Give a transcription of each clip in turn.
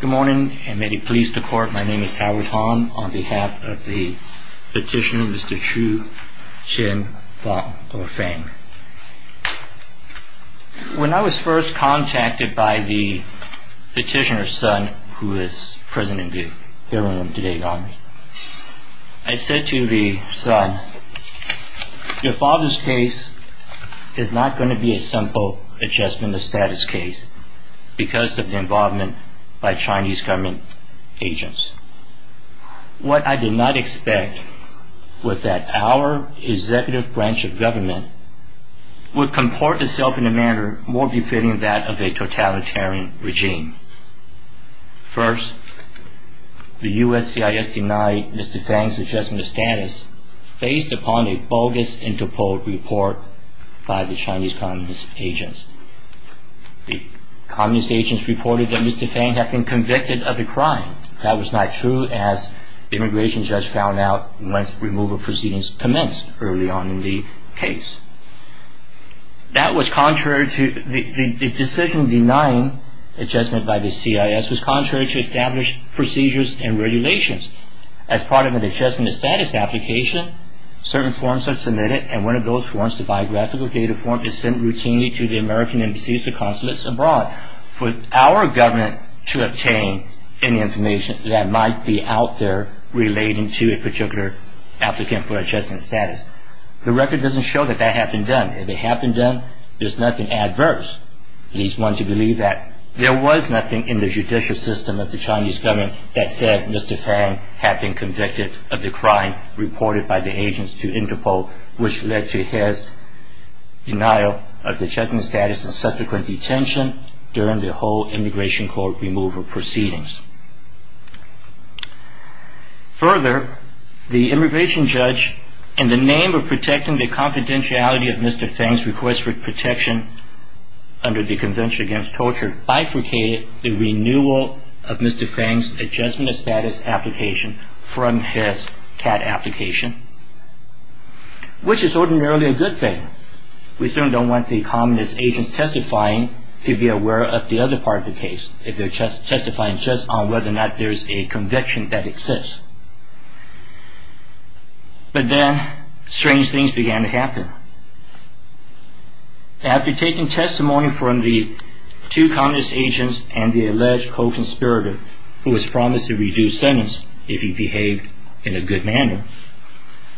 Good morning, and may he please the court. My name is Howard Hong on behalf of the petitioner, Mr. Chiu Chin-Fong Do-Feng. When I was first contacted by the petitioner's son, who is present in the hearing room today, I said to the son, your father's case is not going to be a simple adjustment of status case because of the involvement by Chinese government agents. What I did not expect was that our executive branch of government would comport itself in a manner more befitting that of a totalitarian regime. First, the USCIS denied Mr. Fang's adjustment of status based upon a bogus interpol report by the Chinese communist agents. The communist agents reported that Mr. Fang had been convicted of a crime. That was not true as the immigration judge found out once removal proceedings commenced early on in the case. The decision denying adjustment by the CIS was contrary to established procedures and regulations. As part of an adjustment of status application, certain forms are submitted and one of those forms, the biographical data form, is sent routinely to the American embassies and consulates abroad for our government to obtain any information that might be out there relating to a particular applicant for adjustment of status. The record doesn't show that that had been done. If it had been done, there's nothing adverse. It is one to believe that there was nothing in the judicial system of the Chinese government that said Mr. Fang had been convicted of the crime reported by the agents to interpol, which led to his denial of adjustment of status and subsequent detention during the whole immigration court removal proceedings. Further, the immigration judge, in the name of protecting the confidentiality of Mr. Fang's request for protection under the Convention Against Torture, bifurcated the renewal of Mr. Fang's adjustment of status application from his CAT application, which is ordinarily a good thing. We certainly don't want the communist agents testifying to be aware of the other part of the case, if they're testifying just on whether or not there's a conviction that exists. But then, strange things began to happen. After taking testimony from the two communist agents and the alleged co-conspirator, who was promised a reduced sentence if he behaved in a good manner,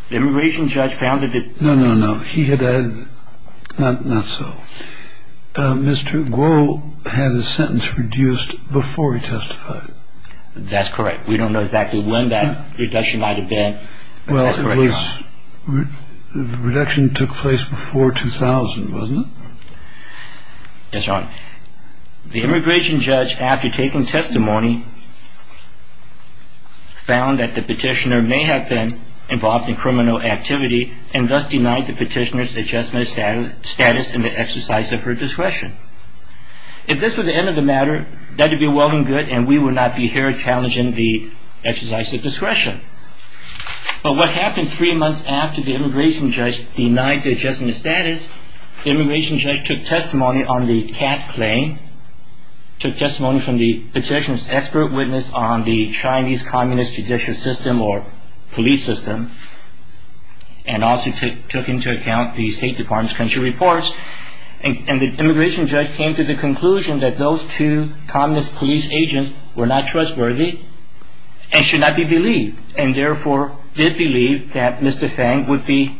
the immigration judge found that... No, no, no. He had... Not so. Mr. Guo had his sentence reduced before he testified. That's correct. We don't know exactly when that reduction might have been. Well, it was... The reduction took place before 2000, wasn't it? Yes, Your Honor. The immigration judge, after taking testimony, found that the petitioner may have been involved in criminal activity and thus denied the petitioner's adjustment of status in the exercise of her discretion. If this were the end of the matter, that would be well and good, and we would not be here challenging the exercise of discretion. But what happened three months after the immigration judge denied the adjustment of status, the immigration judge took testimony on the Kat claim, took testimony from the petitioner's expert witness on the Chinese communist judicial system or police system, and also took into account the State Department's country reports, and the immigration judge came to the conclusion that those two communist police agents were not trustworthy and should not be believed, and therefore did believe that Mr. Fang would be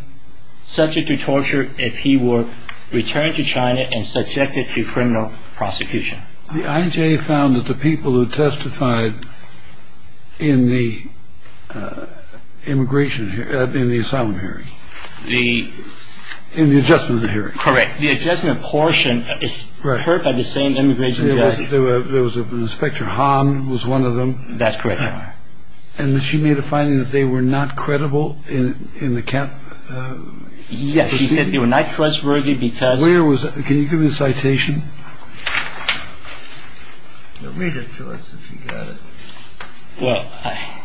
subject to torture if he were returned to China and subjected to criminal prosecution. The IJA found that the people who testified in the immigration... in the asylum hearing... The... In the adjustment of the hearing. Correct. The adjustment portion is heard by the same immigration judge. Inspector Han was one of them. That's correct, Your Honor. And she made a finding that they were not credible in the Kat... Yes, she said they were not trustworthy because... Where was... Can you give me the citation? Read it to us if you've got it. Well, I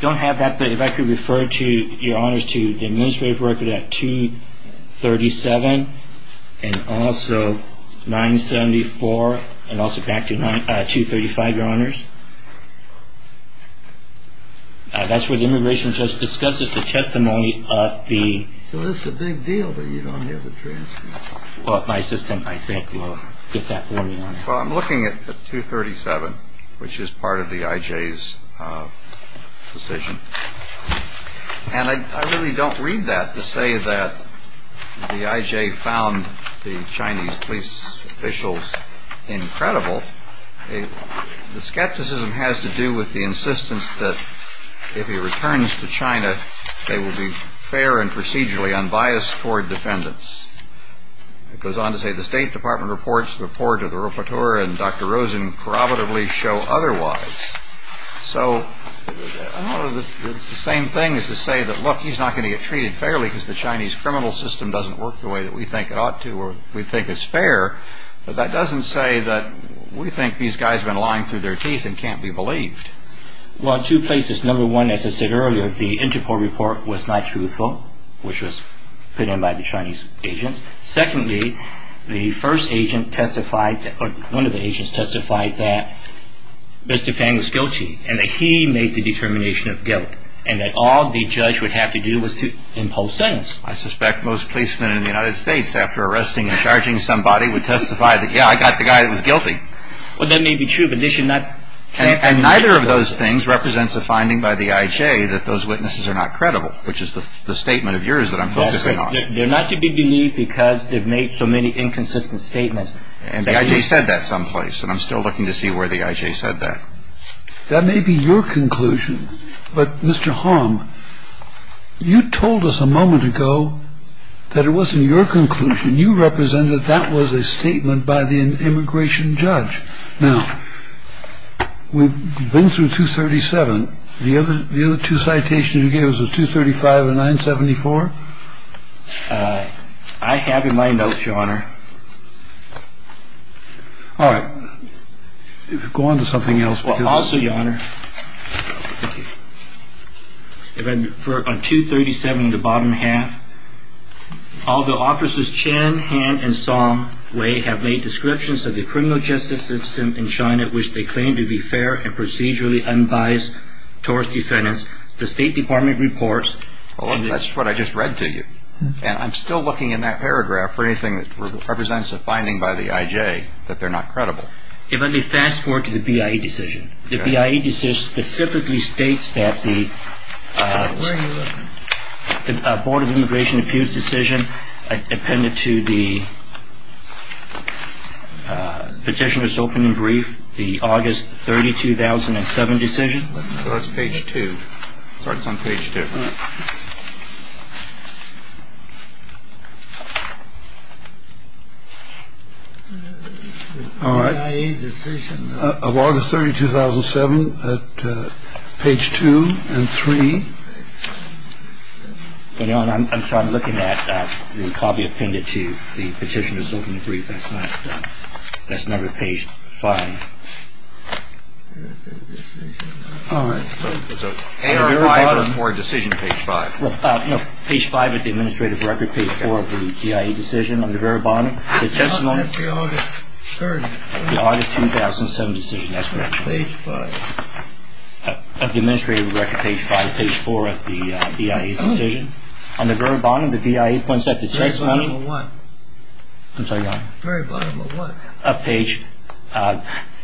don't have that, but if I could refer to, Your Honor, to the administrative record at 237 and also 974 and also back to 235, Your Honors. That's where the immigration judge discusses the testimony of the... Well, it's a big deal that you don't have the transcript. Well, my assistant, I think, will get that for me, Your Honor. Well, I'm looking at 237, which is part of the IJA's decision. And I really don't read that to say that the IJA found the Chinese police officials incredible. The skepticism has to do with the insistence that if he returns to China, they will be fair and procedurally unbiased toward defendants. It goes on to say, The State Department reports report to the rapporteur and Dr. Rosen corroboratively show otherwise. So it's the same thing as to say that, Look, he's not going to get treated fairly because the Chinese criminal system doesn't work the way that we think it ought to or we think is fair. But that doesn't say that we think these guys have been lying through their teeth and can't be believed. Well, two places. Number one, as I said earlier, the Interpol report was not truthful, which was put in by the Chinese agent. Secondly, the first agent testified or one of the agents testified that Mr. Fang was guilty and that he made the determination of guilt and that all the judge would have to do was to impose sentence. I suspect most policemen in the United States, after arresting and charging somebody, would testify that, yeah, I got the guy that was guilty. Well, that may be true, but they should not. And neither of those things represents a finding by the IJA that those witnesses are not credible, which is the statement of yours that I'm focusing on. They're not to be believed because they've made so many inconsistent statements. And they said that someplace. And I'm still looking to see where the IJA said that. That may be your conclusion. But, Mr. Hong, you told us a moment ago that it wasn't your conclusion. You represent that that was a statement by the immigration judge. Now, we've been through 237. The other two citations you gave us was 235 and 974. I have in my notes, Your Honor. All right. Go on to something else. Also, Your Honor, for 237 in the bottom half, all the officers Chen, Han and Song Wei have made descriptions of the criminal justice system in China in which they claim to be fair and procedurally unbiased towards defendants. The State Department reports. Well, that's what I just read to you. And I'm still looking in that paragraph for anything that represents a finding by the IJA that they're not credible. Let me fast forward to the BIA decision. The BIA decision specifically states that the Board of Immigration Appeals decision depended to the petitioner's opening brief. The August 32,007 decision. That's page two. It starts on page two. All right. The BIA decision of August 32,007 at page two and three. Your Honor, I'm sorry. I'm looking at the copy appended to the petitioner's opening brief. That's not at page five. All right. Page five at the administrative record. Page four of the BIA decision on the very bottom. That's the August 30,007 decision. That's page five. Page four of the administrative record. Page five. Page four of the BIA's decision. On the very bottom, the BIA points out the testimony. Very bottom of what? I'm sorry, Your Honor. Very bottom of what? Up page.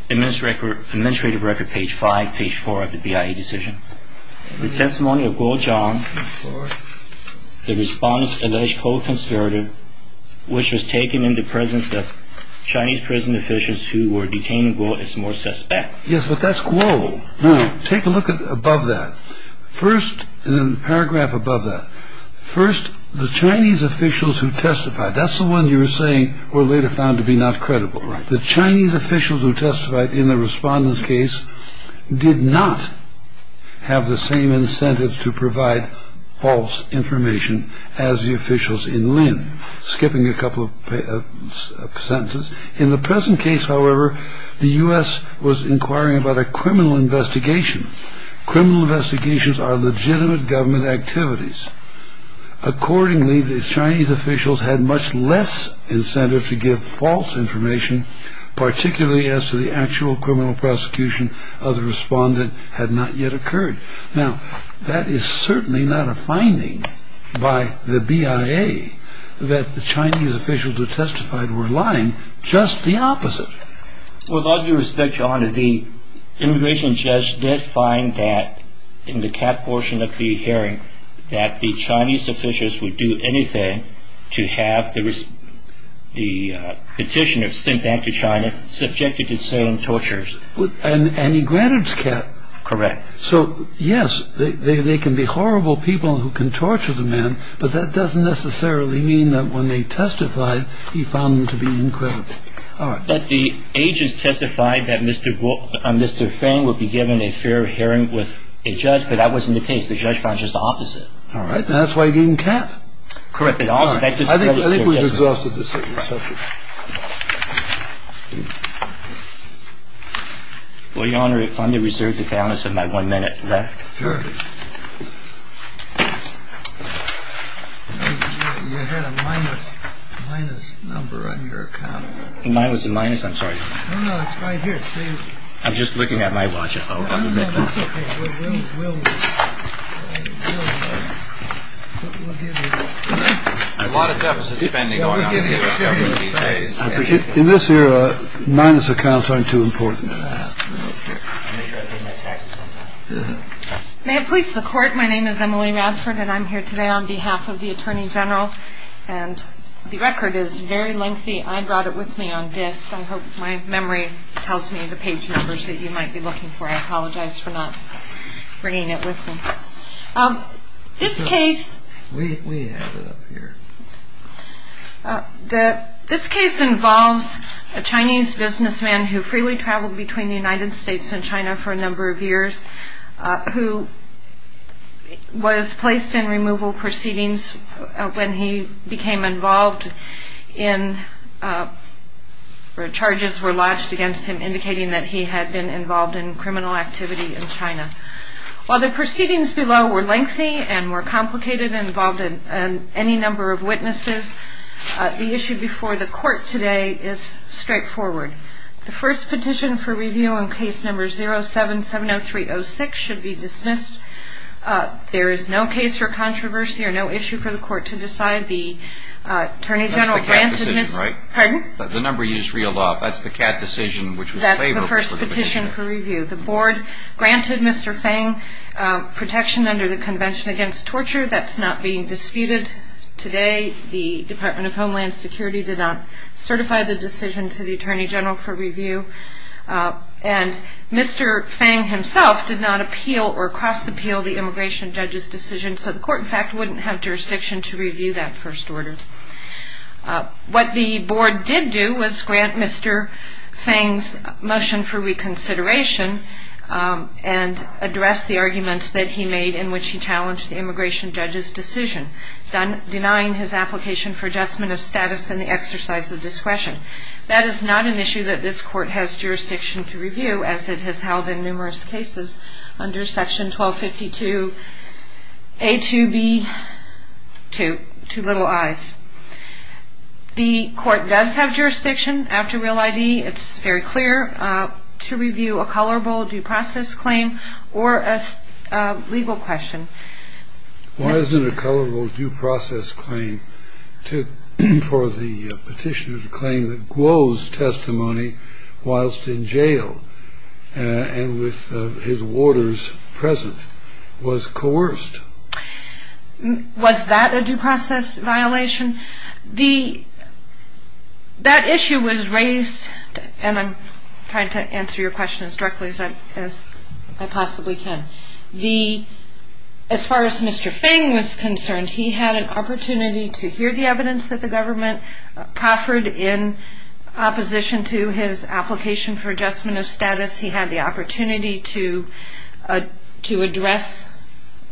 Administrative record page five, page four of the BIA decision. The testimony of Guo Zhang. The response alleged co-conspirator, which was taken in the presence of Chinese prison officials who were detaining Guo as more suspect. Yes, but that's Guo. Now, take a look above that. First, in the paragraph above that. First, the Chinese officials who testified. That's the one you were saying were later found to be not credible. The Chinese officials who testified in the respondent's case did not have the same incentives to provide false information as the officials in Lin. Skipping a couple of sentences. In the present case, however, the U.S. was inquiring about a criminal investigation. Criminal investigations are legitimate government activities. Accordingly, the Chinese officials had much less incentive to give false information, particularly as to the actual criminal prosecution of the respondent had not yet occurred. Now, that is certainly not a finding by the BIA that the Chinese officials who testified were lying. Just the opposite. With all due respect, Your Honor, the immigration judge did find that in the cap portion of the hearing that the Chinese officials would do anything to have the petitioner sent back to China subjected to the same tortures. And he granted his cap. Correct. So, yes, they can be horrible people who can torture the man, but that doesn't necessarily mean that when they testified he found them to be incredible. All right. The agents testified that Mr. Feng would be given a fair hearing with a judge, but that wasn't the case. The judge found just the opposite. All right. And that's why he didn't cap. Correct. All right. I think we've exhausted this subject. Well, Your Honor, if I may reserve the balance of my one minute left. Sure. You had a minus, minus number on your account. Mine was a minus. I'm sorry. No, no. It's right here. I'm just looking at my watch. Oh, OK. That's OK. We'll get it. A lot of deficit spending going on here. In this era, minus accounts aren't too important. May I please record? My name is Emily Radford, and I'm here today on behalf of the Attorney General, and the record is very lengthy. I brought it with me on disk. I hope my memory tells me the page numbers that you might be looking for. I apologize for not bringing it with me. This case involves a Chinese businessman who freely traveled between the United States and China for a number of years, who was placed in removal proceedings when he became involved in where charges were lodged against him indicating that he had been involved in criminal activity in China. While the proceedings below were lengthy and more complicated and involved any number of witnesses, the issue before the court today is straightforward. The first petition for review in case number 0770306 should be dismissed. There is no case for controversy or no issue for the court to decide. The Attorney General granted Mr. That's the cat decision, right? Pardon? The number used is real law. That's the cat decision, which would favor the petition. That's the first petition for review. The board granted Mr. Fang protection under the Convention Against Torture. That's not being disputed today. The Department of Homeland Security did not certify the decision to the Attorney General for review. And Mr. Fang himself did not appeal or cross-appeal the immigration judge's decision, so the court, in fact, wouldn't have jurisdiction to review that first order. What the board did do was grant Mr. Fang's motion for reconsideration and address the arguments that he made in which he challenged the immigration judge's decision, denying his application for adjustment of status and the exercise of discretion. That is not an issue that this court has jurisdiction to review, as it has held in numerous cases under Section 1252A2B2, two little I's. The court does have jurisdiction after Real ID. It's very clear to review a colorable due process claim or a legal question. Why is it a colorable due process claim for the petitioner to claim that Guo's testimony whilst in jail and with his warders present was coerced? Was that a due process violation? That issue was raised, and I'm trying to answer your question as directly as I possibly can. As far as Mr. Fang was concerned, he had an opportunity to hear the evidence that the government proffered in opposition to his application for adjustment of status. He had the opportunity to address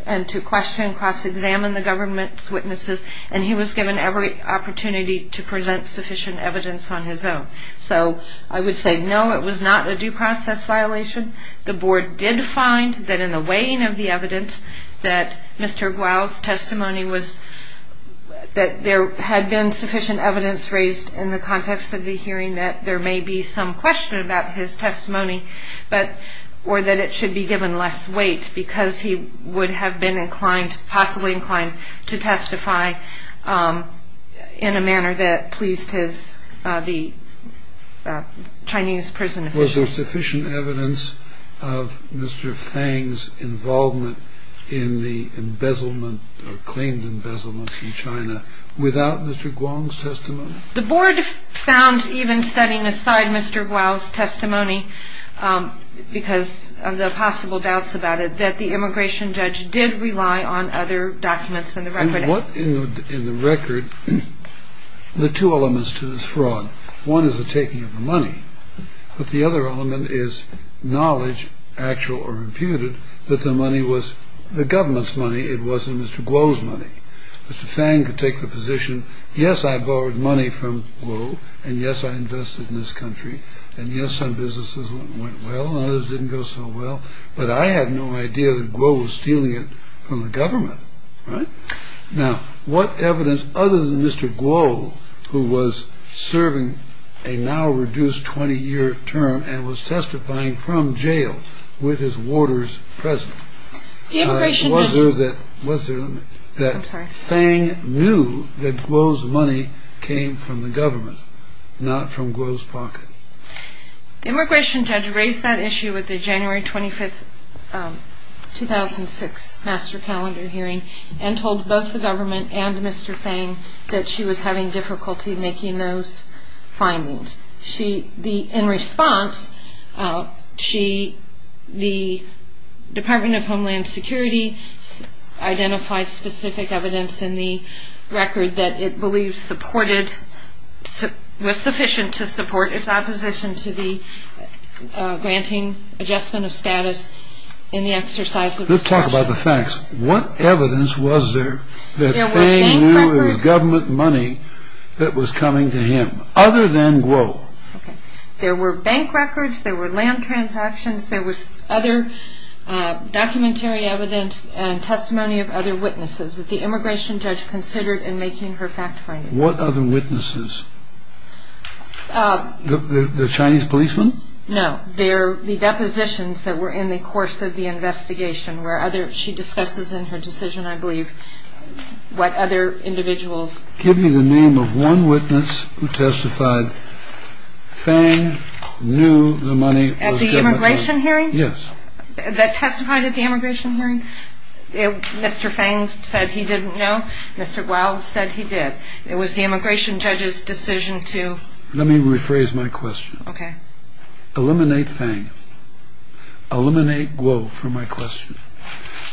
and to question, cross-examine the government's witnesses, and he was given every opportunity to present sufficient evidence on his own. So I would say, no, it was not a due process violation. The board did find that in the weighing of the evidence that Mr. Guo's testimony was that there had been sufficient evidence raised in the context of the hearing that there may be some question about his testimony, or that it should be given less weight because he would have been inclined, possibly inclined to testify in a manner that pleased the Chinese prison officials. Was there sufficient evidence of Mr. Fang's involvement in the embezzlement or claimed embezzlement from China without Mr. Guo's testimony? The board found, even setting aside Mr. Guo's testimony because of the possible doubts about it, that the immigration judge did rely on other documents in the record. In the record, there are two elements to this fraud. One is the taking of the money, but the other element is knowledge, actual or reputed, that the money was the government's money, it wasn't Mr. Guo's money. Mr. Fang could take the position, yes, I borrowed money from Guo, and yes, I invested in this country, and yes, some businesses went well, and others didn't go so well, but I had no idea that Guo was stealing it from the government. Now, what evidence other than Mr. Guo, who was serving a now reduced 20-year term and was testifying from jail with his warders present, was there that Fang knew that Guo's money came from the government, not from Guo's pocket? The immigration judge raised that issue at the January 25, 2006, Master Calendar hearing and told both the government and Mr. Fang that she was having difficulty making those findings. In response, the Department of Homeland Security identified specific evidence in the record that it believes was sufficient to support its opposition to the granting adjustment of status in the exercise of the statute. Let's talk about the facts. What evidence was there that Fang knew it was government money that was coming to him, other than Guo? There were bank records, there were land transactions, there was other documentary evidence and testimony of other witnesses that the immigration judge considered in making her fact findings. What other witnesses? The Chinese policemen? No, the depositions that were in the course of the investigation, where she discusses in her decision, I believe, what other individuals... Give me the name of one witness who testified Fang knew the money was government money. At the immigration hearing? Yes. That testified at the immigration hearing? Mr. Fang said he didn't know, Mr. Guo said he did. It was the immigration judge's decision to... Let me rephrase my question. Okay. Eliminate Fang. Eliminate Guo from my question.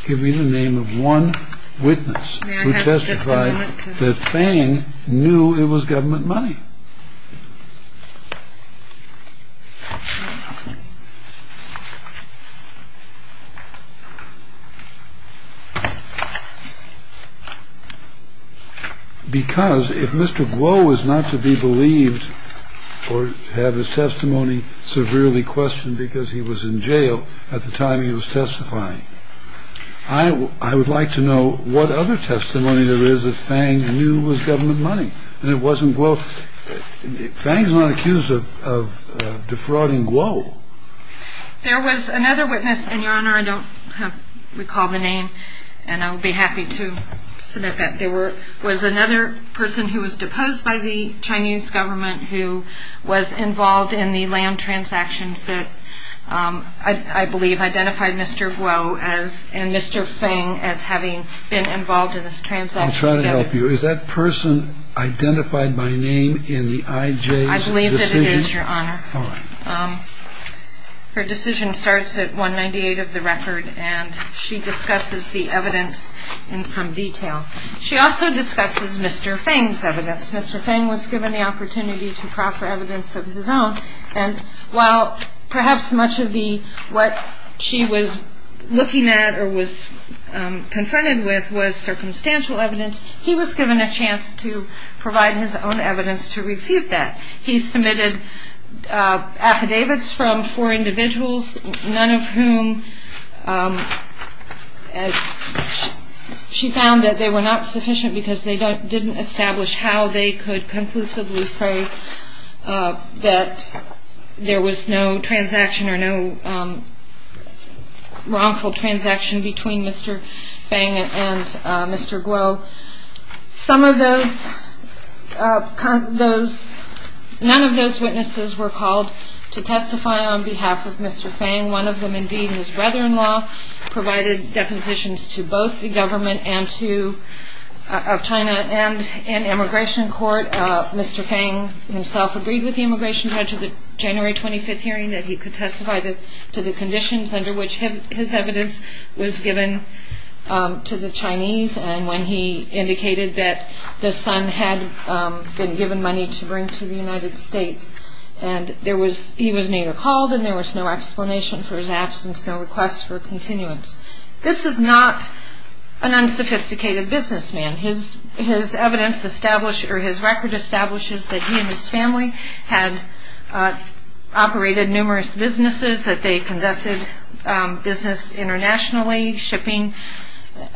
Give me the name of one witness who testified that Fang knew it was government money. Because if Mr. Guo was not to be believed or have his testimony severely questioned because he was in jail at the time he was testifying, I would like to know what other testimony there is that Fang knew was government money, and it wasn't Guo... Fang is not accused of defrauding Guo. There was another witness, and, Your Honor, I don't recall the name, and I would be happy to submit that. There was another person who was deposed by the Chinese government who was involved in the land transactions that I believe identified Mr. Guo and Mr. Fang as having been involved in this transaction together. I'll try to help you. Is that person identified by name in the IJ's decision? I believe that it is, Your Honor. All right. Her decision starts at 198 of the record, and she discusses the evidence in some detail. She also discusses Mr. Fang's evidence. Mr. Fang was given the opportunity to proffer evidence of his own, and while perhaps much of what she was looking at or was confronted with was circumstantial evidence, he was given a chance to provide his own evidence to refute that. He submitted affidavits from four individuals, none of whom she found that they were not sufficient because they didn't establish how they could conclusively say that there was no transaction or no wrongful transaction between Mr. Fang and Mr. Guo. None of those witnesses were called to testify on behalf of Mr. Fang. One of them, indeed, his brother-in-law, provided depositions to both the government of China and an immigration court. Mr. Fang himself agreed with the immigration judge at the January 25th hearing that he could testify to the conditions under which his evidence was given to the Chinese, and when he indicated that the son had been given money to bring to the United States. He was neither called, and there was no explanation for his absence, no request for continuance. This is not an unsophisticated businessman. His record establishes that he and his family had operated numerous businesses, that they conducted business internationally, shipping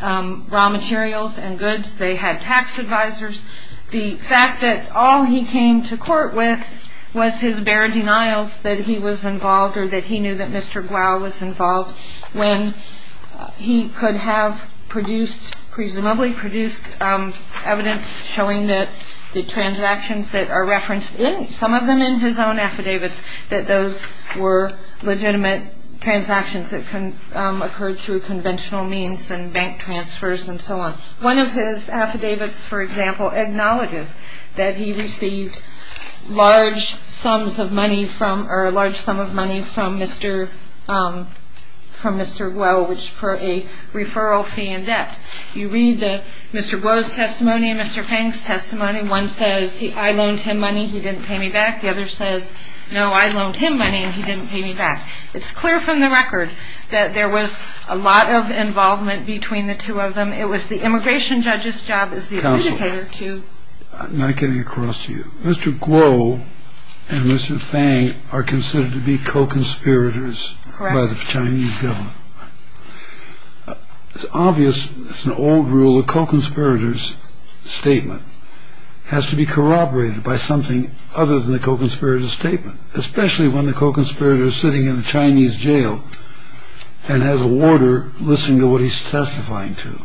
raw materials and goods. They had tax advisors. The fact that all he came to court with was his bare denials that he was involved or that he knew that Mr. Guo was involved when he could have produced, presumably produced evidence showing that the transactions that are referenced in, some of them in his own affidavits, that those were legitimate transactions that occurred through conventional means and bank transfers and so on. One of his affidavits, for example, acknowledges that he received large sums of money from Mr. Guo for a referral fee in debt. You read Mr. Guo's testimony and Mr. Fang's testimony. One says, I loaned him money, he didn't pay me back. The other says, no, I loaned him money and he didn't pay me back. It's clear from the record that there was a lot of involvement between the two of them. It was the immigration judge's job as the adjudicator to- Counselor, I'm not getting across to you. Mr. Guo and Mr. Fang are considered to be co-conspirators by the Chinese government. Correct. It's obvious, it's an old rule, a co-conspirator's statement has to be corroborated by something other than the co-conspirator's statement, especially when the co-conspirator is sitting in a Chinese jail and has a warder listening to what he's testifying to.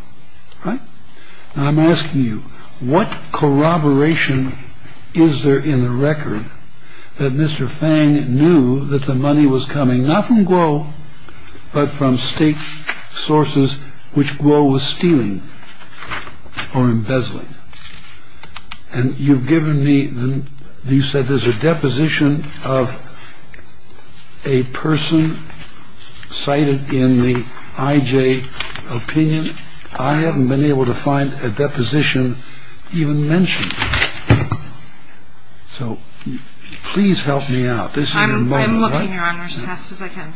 I'm asking you, what corroboration is there in the record that Mr. Fang knew that the money was coming not from Guo, but from state sources which Guo was stealing or embezzling? And you've given me, you said there's a deposition of a person cited in the IJ opinion. I haven't been able to find a deposition even mentioned. So please help me out. I'm looking, Your Honor, as fast as I can.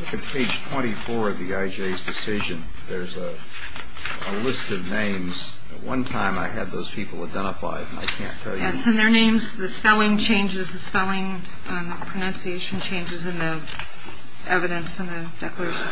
Look at page 24 of the IJ's decision. There's a list of names. At one time I had those people identified, and I can't tell you. Yes, and their names, the spelling changes, the pronunciation changes in the evidence in the declaration.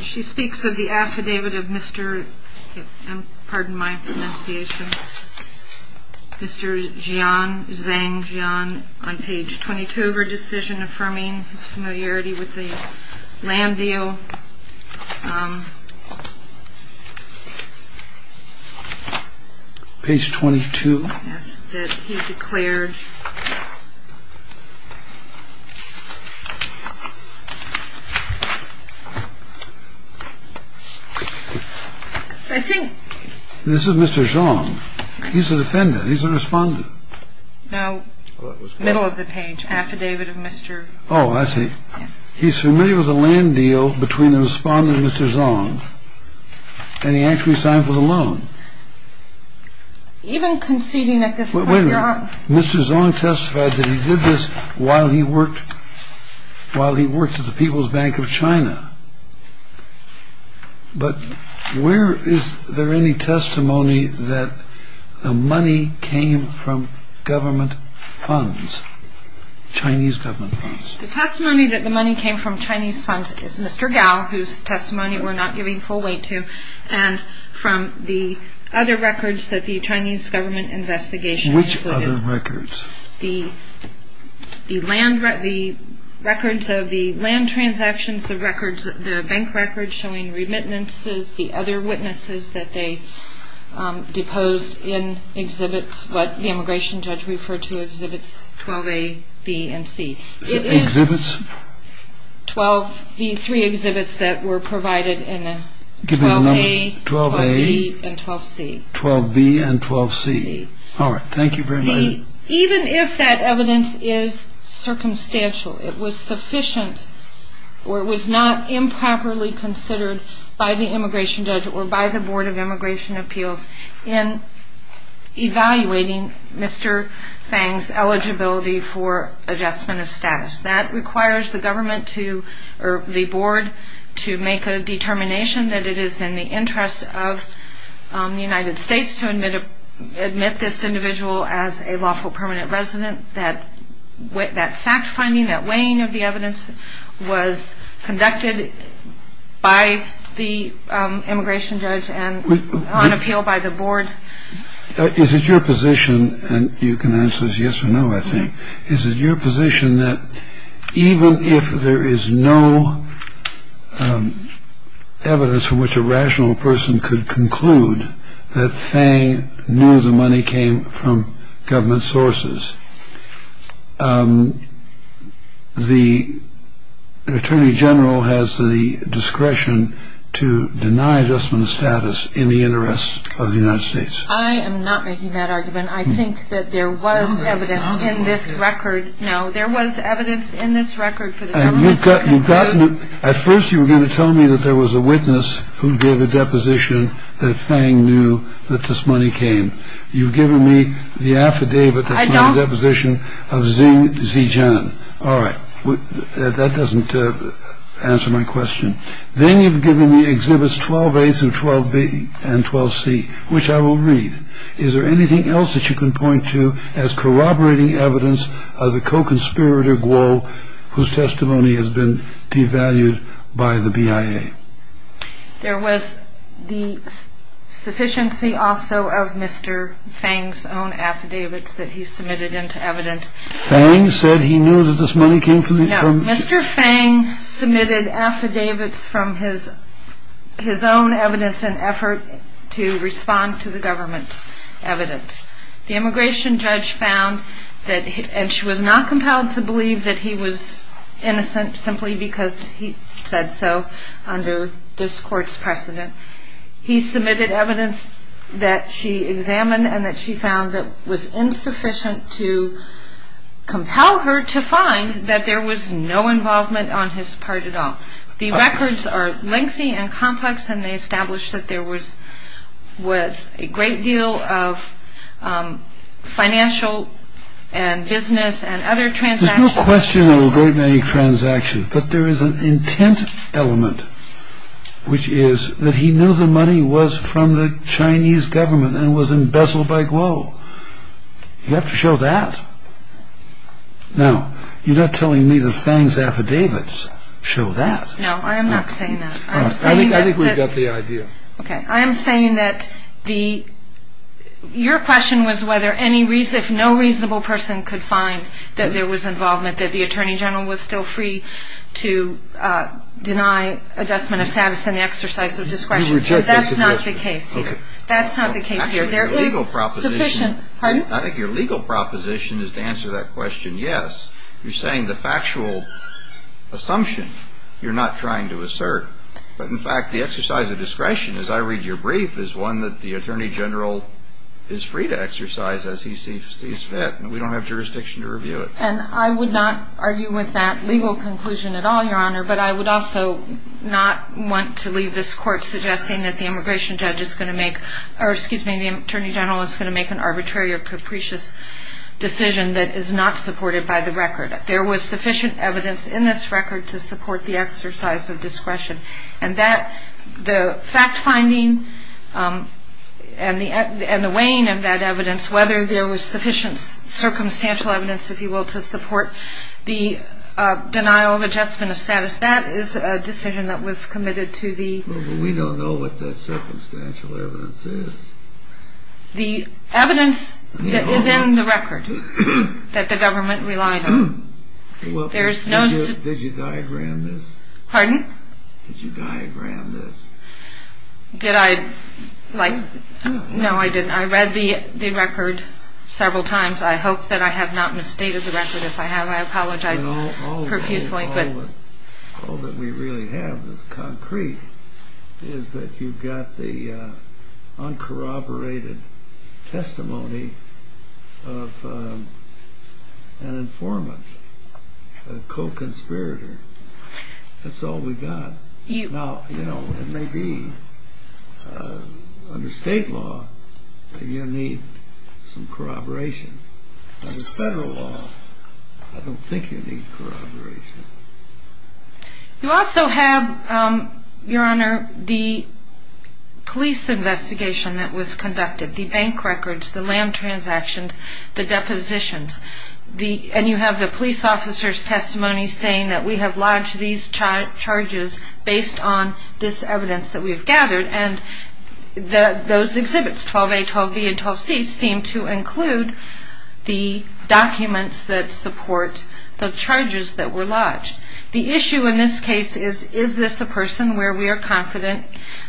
She speaks of the affidavit of Mr. Zhang Jian on page 22 of her decision affirming his familiarity with the land deal. Page 22. Yes, he declared. I think. This is Mr. Zhang. He's the defendant. He's the respondent. No, middle of the page, affidavit of Mr. Oh, I see. He's familiar with the land deal between the respondent and Mr. Zhang. And he actually signed for the loan. Even conceding at this point, Your Honor. Mr. Zhang testified that he did this while he worked at the People's Bank of China. But where is there any testimony that the money came from government funds, Chinese government funds? The testimony that the money came from Chinese funds is Mr. Gao, whose testimony we're not giving full weight to, and from the other records that the Chinese government investigation included. Which other records? The records of the land transactions, the bank records showing remittances, the other witnesses that they deposed in exhibits, what the immigration judge referred to as exhibits 12A, B, and C. Exhibits? The three exhibits that were provided in the 12A, 12B, and 12C. 12A, 12B, and 12C. All right, thank you very much. Even if that evidence is circumstantial, it was sufficient or it was not improperly considered by the immigration judge or by the Board of Immigration Appeals in evaluating Mr. Zhang's eligibility for adjustment of status. That requires the board to make a determination that it is in the interest of the United States to admit this individual as a lawful permanent resident. That fact-finding, that weighing of the evidence was conducted by the immigration judge and on appeal by the board. Is it your position, and you can answer this yes or no, I think, is it your position that even if there is no evidence from which a rational person could conclude that Zhang knew the money came from government sources, the Attorney General has the discretion to deny adjustment of status in the interest of the United States? I am not making that argument. I think that there was evidence in this record. No, there was evidence in this record for the government to conclude. At first you were going to tell me that there was a witness who gave a deposition that Zhang knew that this money came. You've given me the affidavit that's not a deposition of Zeng Zijian. All right. That doesn't answer my question. Then you've given me Exhibits 12A through 12B and 12C, which I will read. Is there anything else that you can point to as corroborating evidence of the co-conspirator Guo, whose testimony has been devalued by the BIA? There was the sufficiency also of Mr. Fang's own affidavits that he submitted into evidence. Fang said he knew that this money came from… No, Mr. Fang submitted affidavits from his own evidence and effort to respond to the government's evidence. The immigration judge found that, and she was not compelled to believe that he was innocent simply because he said so under this court's precedent. He submitted evidence that she examined and that she found that was insufficient to compel her to find that there was no involvement on his part at all. The records are lengthy and complex, and they establish that there was a great deal of financial and business and other transactions. There's no question there were great many transactions, but there is an intent element, which is that he knew the money was from the Chinese government and was embezzled by Guo. You have to show that. Now, you're not telling me that Fang's affidavits show that. No, I am not saying that. I think we've got the idea. Okay, I am saying that your question was if no reasonable person could find that there was involvement, that the Attorney General was still free to deny adjustment of status and the exercise of discretion. You reject that suggestion. That's not the case here. Okay. That's not the case here. I think your legal proposition is to answer that question, yes. You're saying the factual assumption you're not trying to assert. But, in fact, the exercise of discretion, as I read your brief, is one that the Attorney General is free to exercise as he sees fit, and we don't have jurisdiction to review it. And I would not argue with that legal conclusion at all, Your Honor, but I would also not want to leave this Court suggesting that the immigration judge is going to make, or excuse me, the Attorney General is going to make an arbitrary or capricious decision that is not supported by the record. There was sufficient evidence in this record to support the exercise of discretion, and the fact-finding and the weighing of that evidence, whether there was sufficient circumstantial evidence, if you will, to support the denial of adjustment of status, that is a decision that was committed to the... Well, but we don't know what that circumstantial evidence is. The evidence that is in the record that the government relied on. There's no... Did you diagram this? Pardon? Did you diagram this? Did I like... No. No, I didn't. I read the record several times. I hope that I have not misstated the record. If I have, I apologize profusely. All that we really have that's concrete is that you've got the uncorroborated testimony of an informant, a co-conspirator. That's all we got. Now, you know, it may be under state law that you need some corroboration. Under federal law, I don't think you need corroboration. You also have, Your Honor, the police investigation that was conducted, the bank records, the land transactions, the depositions, and you have the police officer's testimony saying that we have lodged these charges based on this evidence that we've gathered. And those exhibits, 12A, 12B, and 12C, seem to include the documents that support the charges that were lodged. The issue in this case is, is this a person where we are confident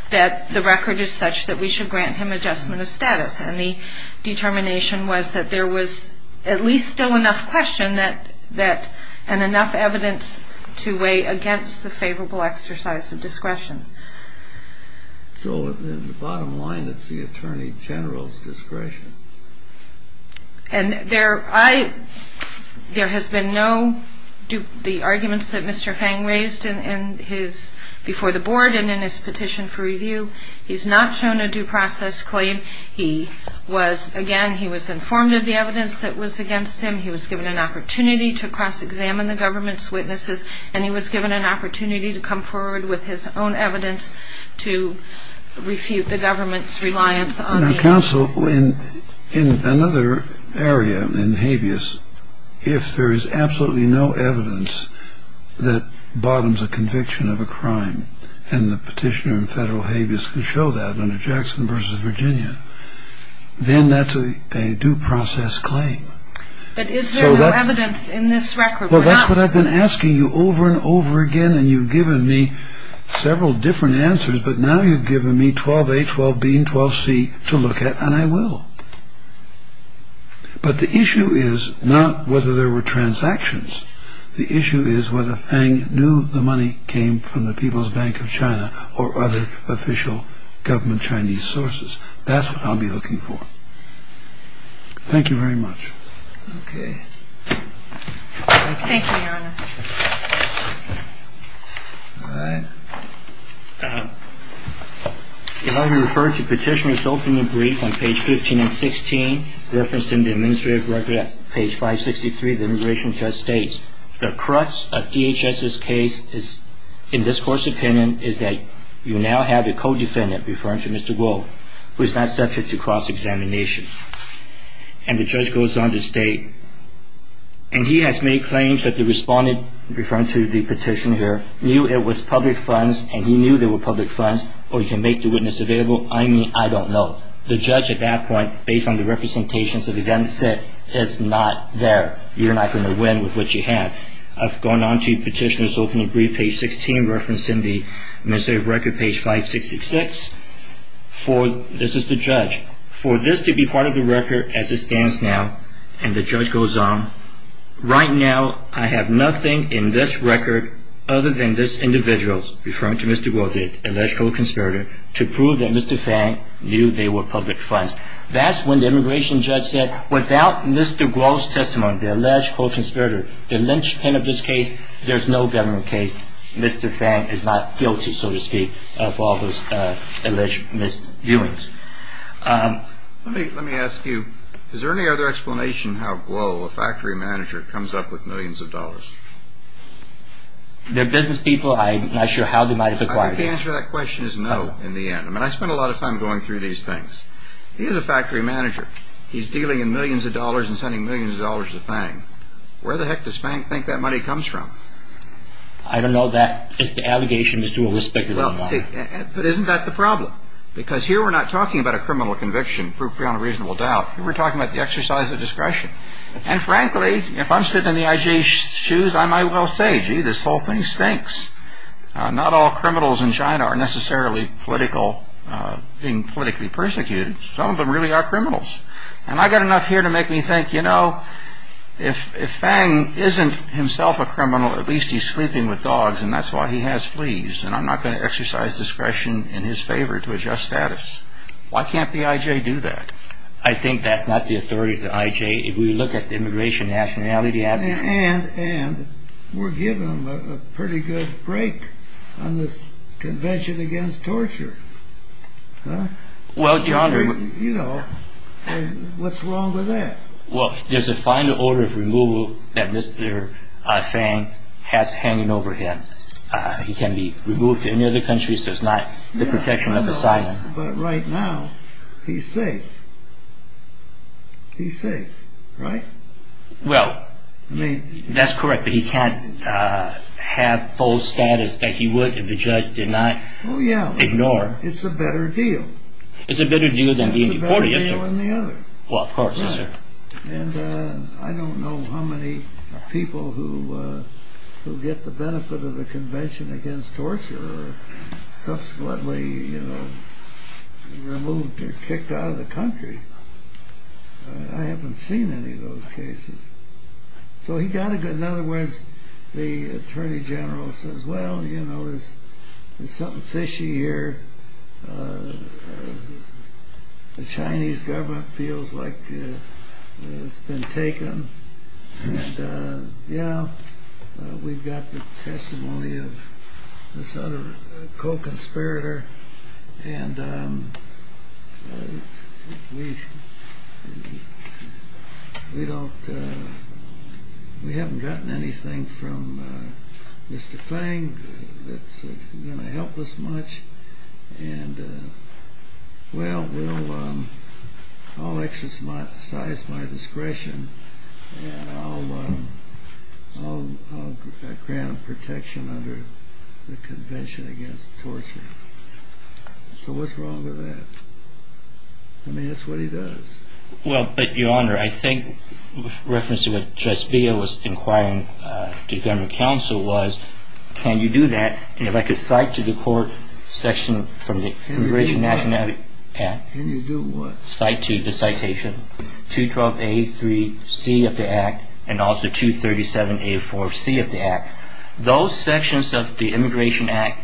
that the record is such that we should grant him adjustment of status? And the determination was that there was at least still enough question that, and enough evidence to weigh against the favorable exercise of discretion. So in the bottom line, it's the Attorney General's discretion. And there has been no, the arguments that Mr. Fang raised before the board and in his petition for review, he's not shown a due process claim. He was, again, he was informed of the evidence that was against him. He was given an opportunity to cross-examine the government's witnesses, and he was given an opportunity to come forward with his own evidence to refute the government's reliance on the evidence. Now, counsel, in another area, in habeas, if there is absolutely no evidence that bottoms a conviction of a crime, and the petitioner in federal habeas can show that under Jackson v. Virginia, then that's a due process claim. But is there no evidence in this record? Well, that's what I've been asking you over and over again, and you've given me several different answers, but now you've given me 12A, 12B, and 12C to look at, and I will. But the issue is not whether there were transactions. The issue is whether Fang knew the money came from the People's Bank of China or other official government Chinese sources. That's what I'll be looking for. Thank you very much. Okay. Thank you, Your Honor. All right. If I were to refer to Petitioner's opening brief on page 15 and 16, referencing the administrative record at page 563, the immigration judge states, the crux of DHS's case in this court's opinion is that you now have a co-defendant, referring to Mr. Guo, who is not subject to cross-examination. And the judge goes on to state, and he has made claims that the respondent, referring to the petitioner, knew it was public funds, and he knew they were public funds, or he can make the witness available. I mean, I don't know. The judge at that point, based on the representations that he then said, is not there. You're not going to win with what you have. I've gone on to Petitioner's opening brief, page 16, referencing the administrative record, page 566. This is the judge. For this to be part of the record as it stands now, and the judge goes on, right now I have nothing in this record other than this individual, referring to Mr. Guo, the illegitimate conspirator, to prove that Mr. Fang knew they were public funds. That's when the immigration judge said, without Mr. Guo's testimony, the alleged co-conspirator, the linchpin of this case, there's no government case. Mr. Fang is not guilty, so to speak, of all those alleged misviewings. Let me ask you, is there any other explanation how Guo, a factory manager, comes up with millions of dollars? They're business people. I'm not sure how they might have acquired it. I think the answer to that question is no, in the end. I mean, I spend a lot of time going through these things. He is a factory manager. He's dealing in millions of dollars and sending millions of dollars to Fang. Where the heck does Fang think that money comes from? I don't know that. It's the allegations to a respectable amount. But isn't that the problem? Because here we're not talking about a criminal conviction, proof beyond a reasonable doubt. Here we're talking about the exercise of discretion. And frankly, if I'm sitting in the IG's shoes, I might well say, gee, this whole thing stinks. Not all criminals in China are necessarily being politically persecuted. Some of them really are criminals. And I've got enough here to make me think, you know, if Fang isn't himself a criminal, at least he's sleeping with dogs and that's why he has fleas. And I'm not going to exercise discretion in his favor to adjust status. Why can't the IJ do that? I think that's not the authority of the IJ. If we look at the immigration nationality, And we're giving them a pretty good break on this convention against torture. Well, Your Honor, You know, what's wrong with that? Well, there's a final order of removal that Mr. Fang has hanging over him. He can be removed to any other country, so it's not the protection of the science. But right now, he's safe. He's safe, right? Well, that's correct, but he can't have full status that he would if the judge did not ignore. Oh, yeah, it's a better deal. It's a better deal than being deported, yes, sir. It's a better deal than the other. Well, of course, yes, sir. And I don't know how many people who get the benefit of the convention against torture are subsequently, you know, removed or kicked out of the country. I haven't seen any of those cases. So he got a good... In other words, the attorney general says, Well, you know, there's something fishy here. The Chinese government feels like it's been taken. And, yeah, we've got the testimony of this other co-conspirator. And we haven't gotten anything from Mr. Fang that's going to help us much. And, well, I'll exercise my discretion, and I'll grant protection under the convention against torture. So what's wrong with that? I mean, that's what he does. Well, but, Your Honor, I think, in reference to what Justice Beale was inquiring to government counsel was, Can you do that? And if I could cite to the court section from the Immigration Nationality Act... Can you do what? Cite to the citation 212A3C of the Act and also 237A4C of the Act. Those sections of the Immigration Act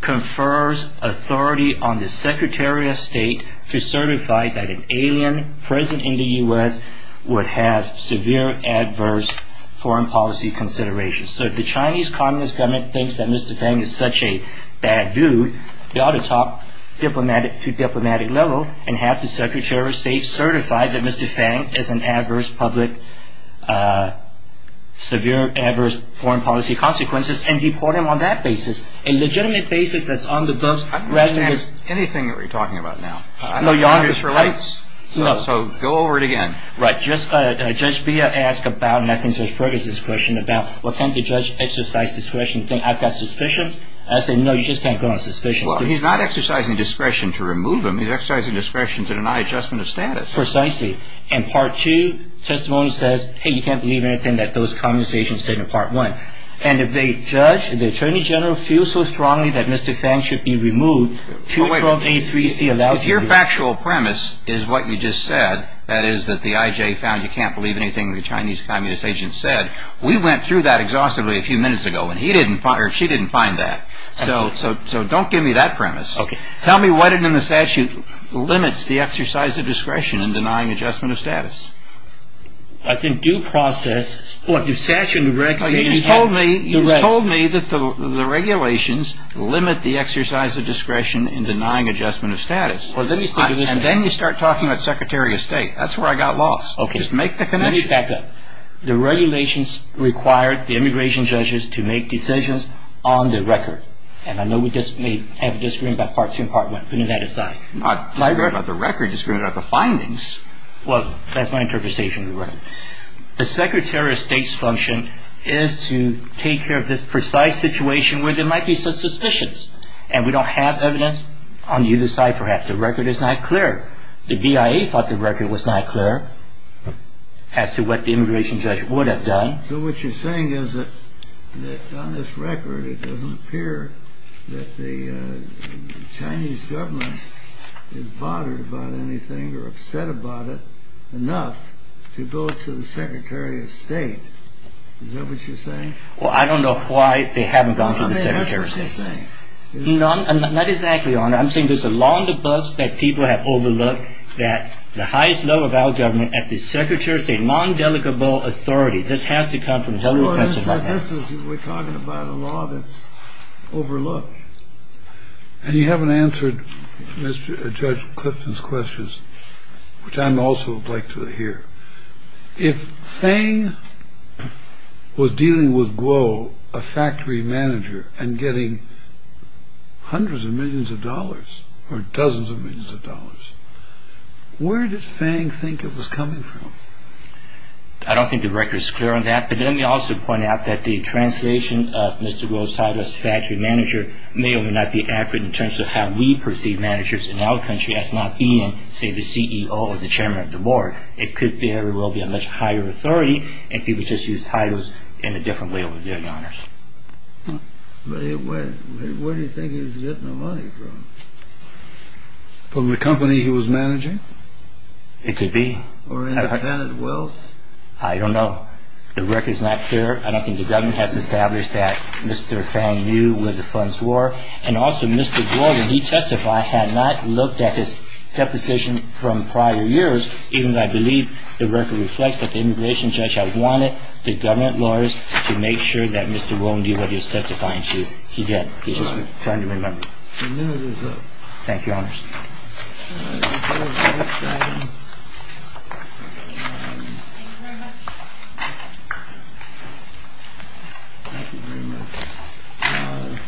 confers authority on the Secretary of State to certify that an alien present in the U.S. would have severe adverse foreign policy considerations. So if the Chinese Communist government thinks that Mr. Fang is such a bad dude, they ought to talk to diplomatic level and have the Secretary of State certify that Mr. Fang is an adverse public... severe adverse foreign policy consequences, and deport him on that basis, a legitimate basis that's on the books rather than... I don't understand anything that you're talking about now. No, Your Honor. So go over it again. Right. Judge Beale asked about, and I think Judge Ferguson's question about, well, can't the judge exercise discretion and think I've got suspicions? I said, no, you just can't go on suspicion. Well, he's not exercising discretion to remove him. He's exercising discretion to deny adjustment of status. Precisely. In Part 2, testimony says, hey, you can't believe anything that those Communist agents said in Part 1. And if they judge, if the Attorney General feels so strongly that Mr. Fang should be removed, 212A3C allows... If your factual premise is what you just said, that is that the IJ found you can't believe anything the Chinese Communist agents said, we went through that exhaustively a few minutes ago, and he didn't find, or she didn't find that. Absolutely. So don't give me that premise. Okay. Tell me what in the statute limits the exercise of discretion in denying adjustment of status. I think due process... Well, you just told me that the regulations limit the exercise of discretion in denying adjustment of status. And then you start talking about Secretary of State. That's where I got lost. Okay. Just make the connection. Let me pick that up. The regulations require the immigration judges to make decisions on the record. And I know we may have a disagreement about Part 2 and Part 1. Putting that aside. Not on the record. Disagreement about the findings. Well, that's my interpretation. Right. The Secretary of State's function is to take care of this precise situation where there might be some suspicions. And we don't have evidence on either side, perhaps. The record is not clear. The BIA thought the record was not clear as to what the immigration judge would have done. So what you're saying is that on this record it doesn't appear that the Chinese government is bothered about anything or upset about it enough to go to the Secretary of State. Is that what you're saying? Well, I don't know why they haven't gone to the Secretary of State. I mean, that's what you're saying. Not exactly, Your Honor. I'm saying there's a law on the bus that people have overlooked, that the highest level of our government, at the Secretary of State, non-delegable authority. This has to come from the Federal Department. We're talking about a law that's overlooked. And you haven't answered Judge Clifton's questions, which I would also like to hear. If Fang was dealing with Guo, a factory manager, and getting hundreds of millions of dollars, or dozens of millions of dollars, where did Fang think it was coming from? I don't think the record is clear on that. But let me also point out that the translation of Mr. Guo's title as factory manager may or may not be accurate in terms of how we perceive managers in our country as not being, say, the CEO or the chairman of the board. It could very well be a much higher authority, and people just use titles in a different way over there, Your Honors. But where do you think he was getting the money from? From the company he was managing? It could be. Or independent wealth? I don't know. The record's not clear, and I think the government has established that Mr. Fang knew where the funds were. And also, Mr. Guo, when he testified, had not looked at his deposition from prior years, even though I believe the record reflects that the immigration judge had wanted the government lawyers to make sure that Mr. Guo knew where he was testifying to. He did. I'm trying to remember. The minute is up. Thank you, Your Honors. Thank you very much.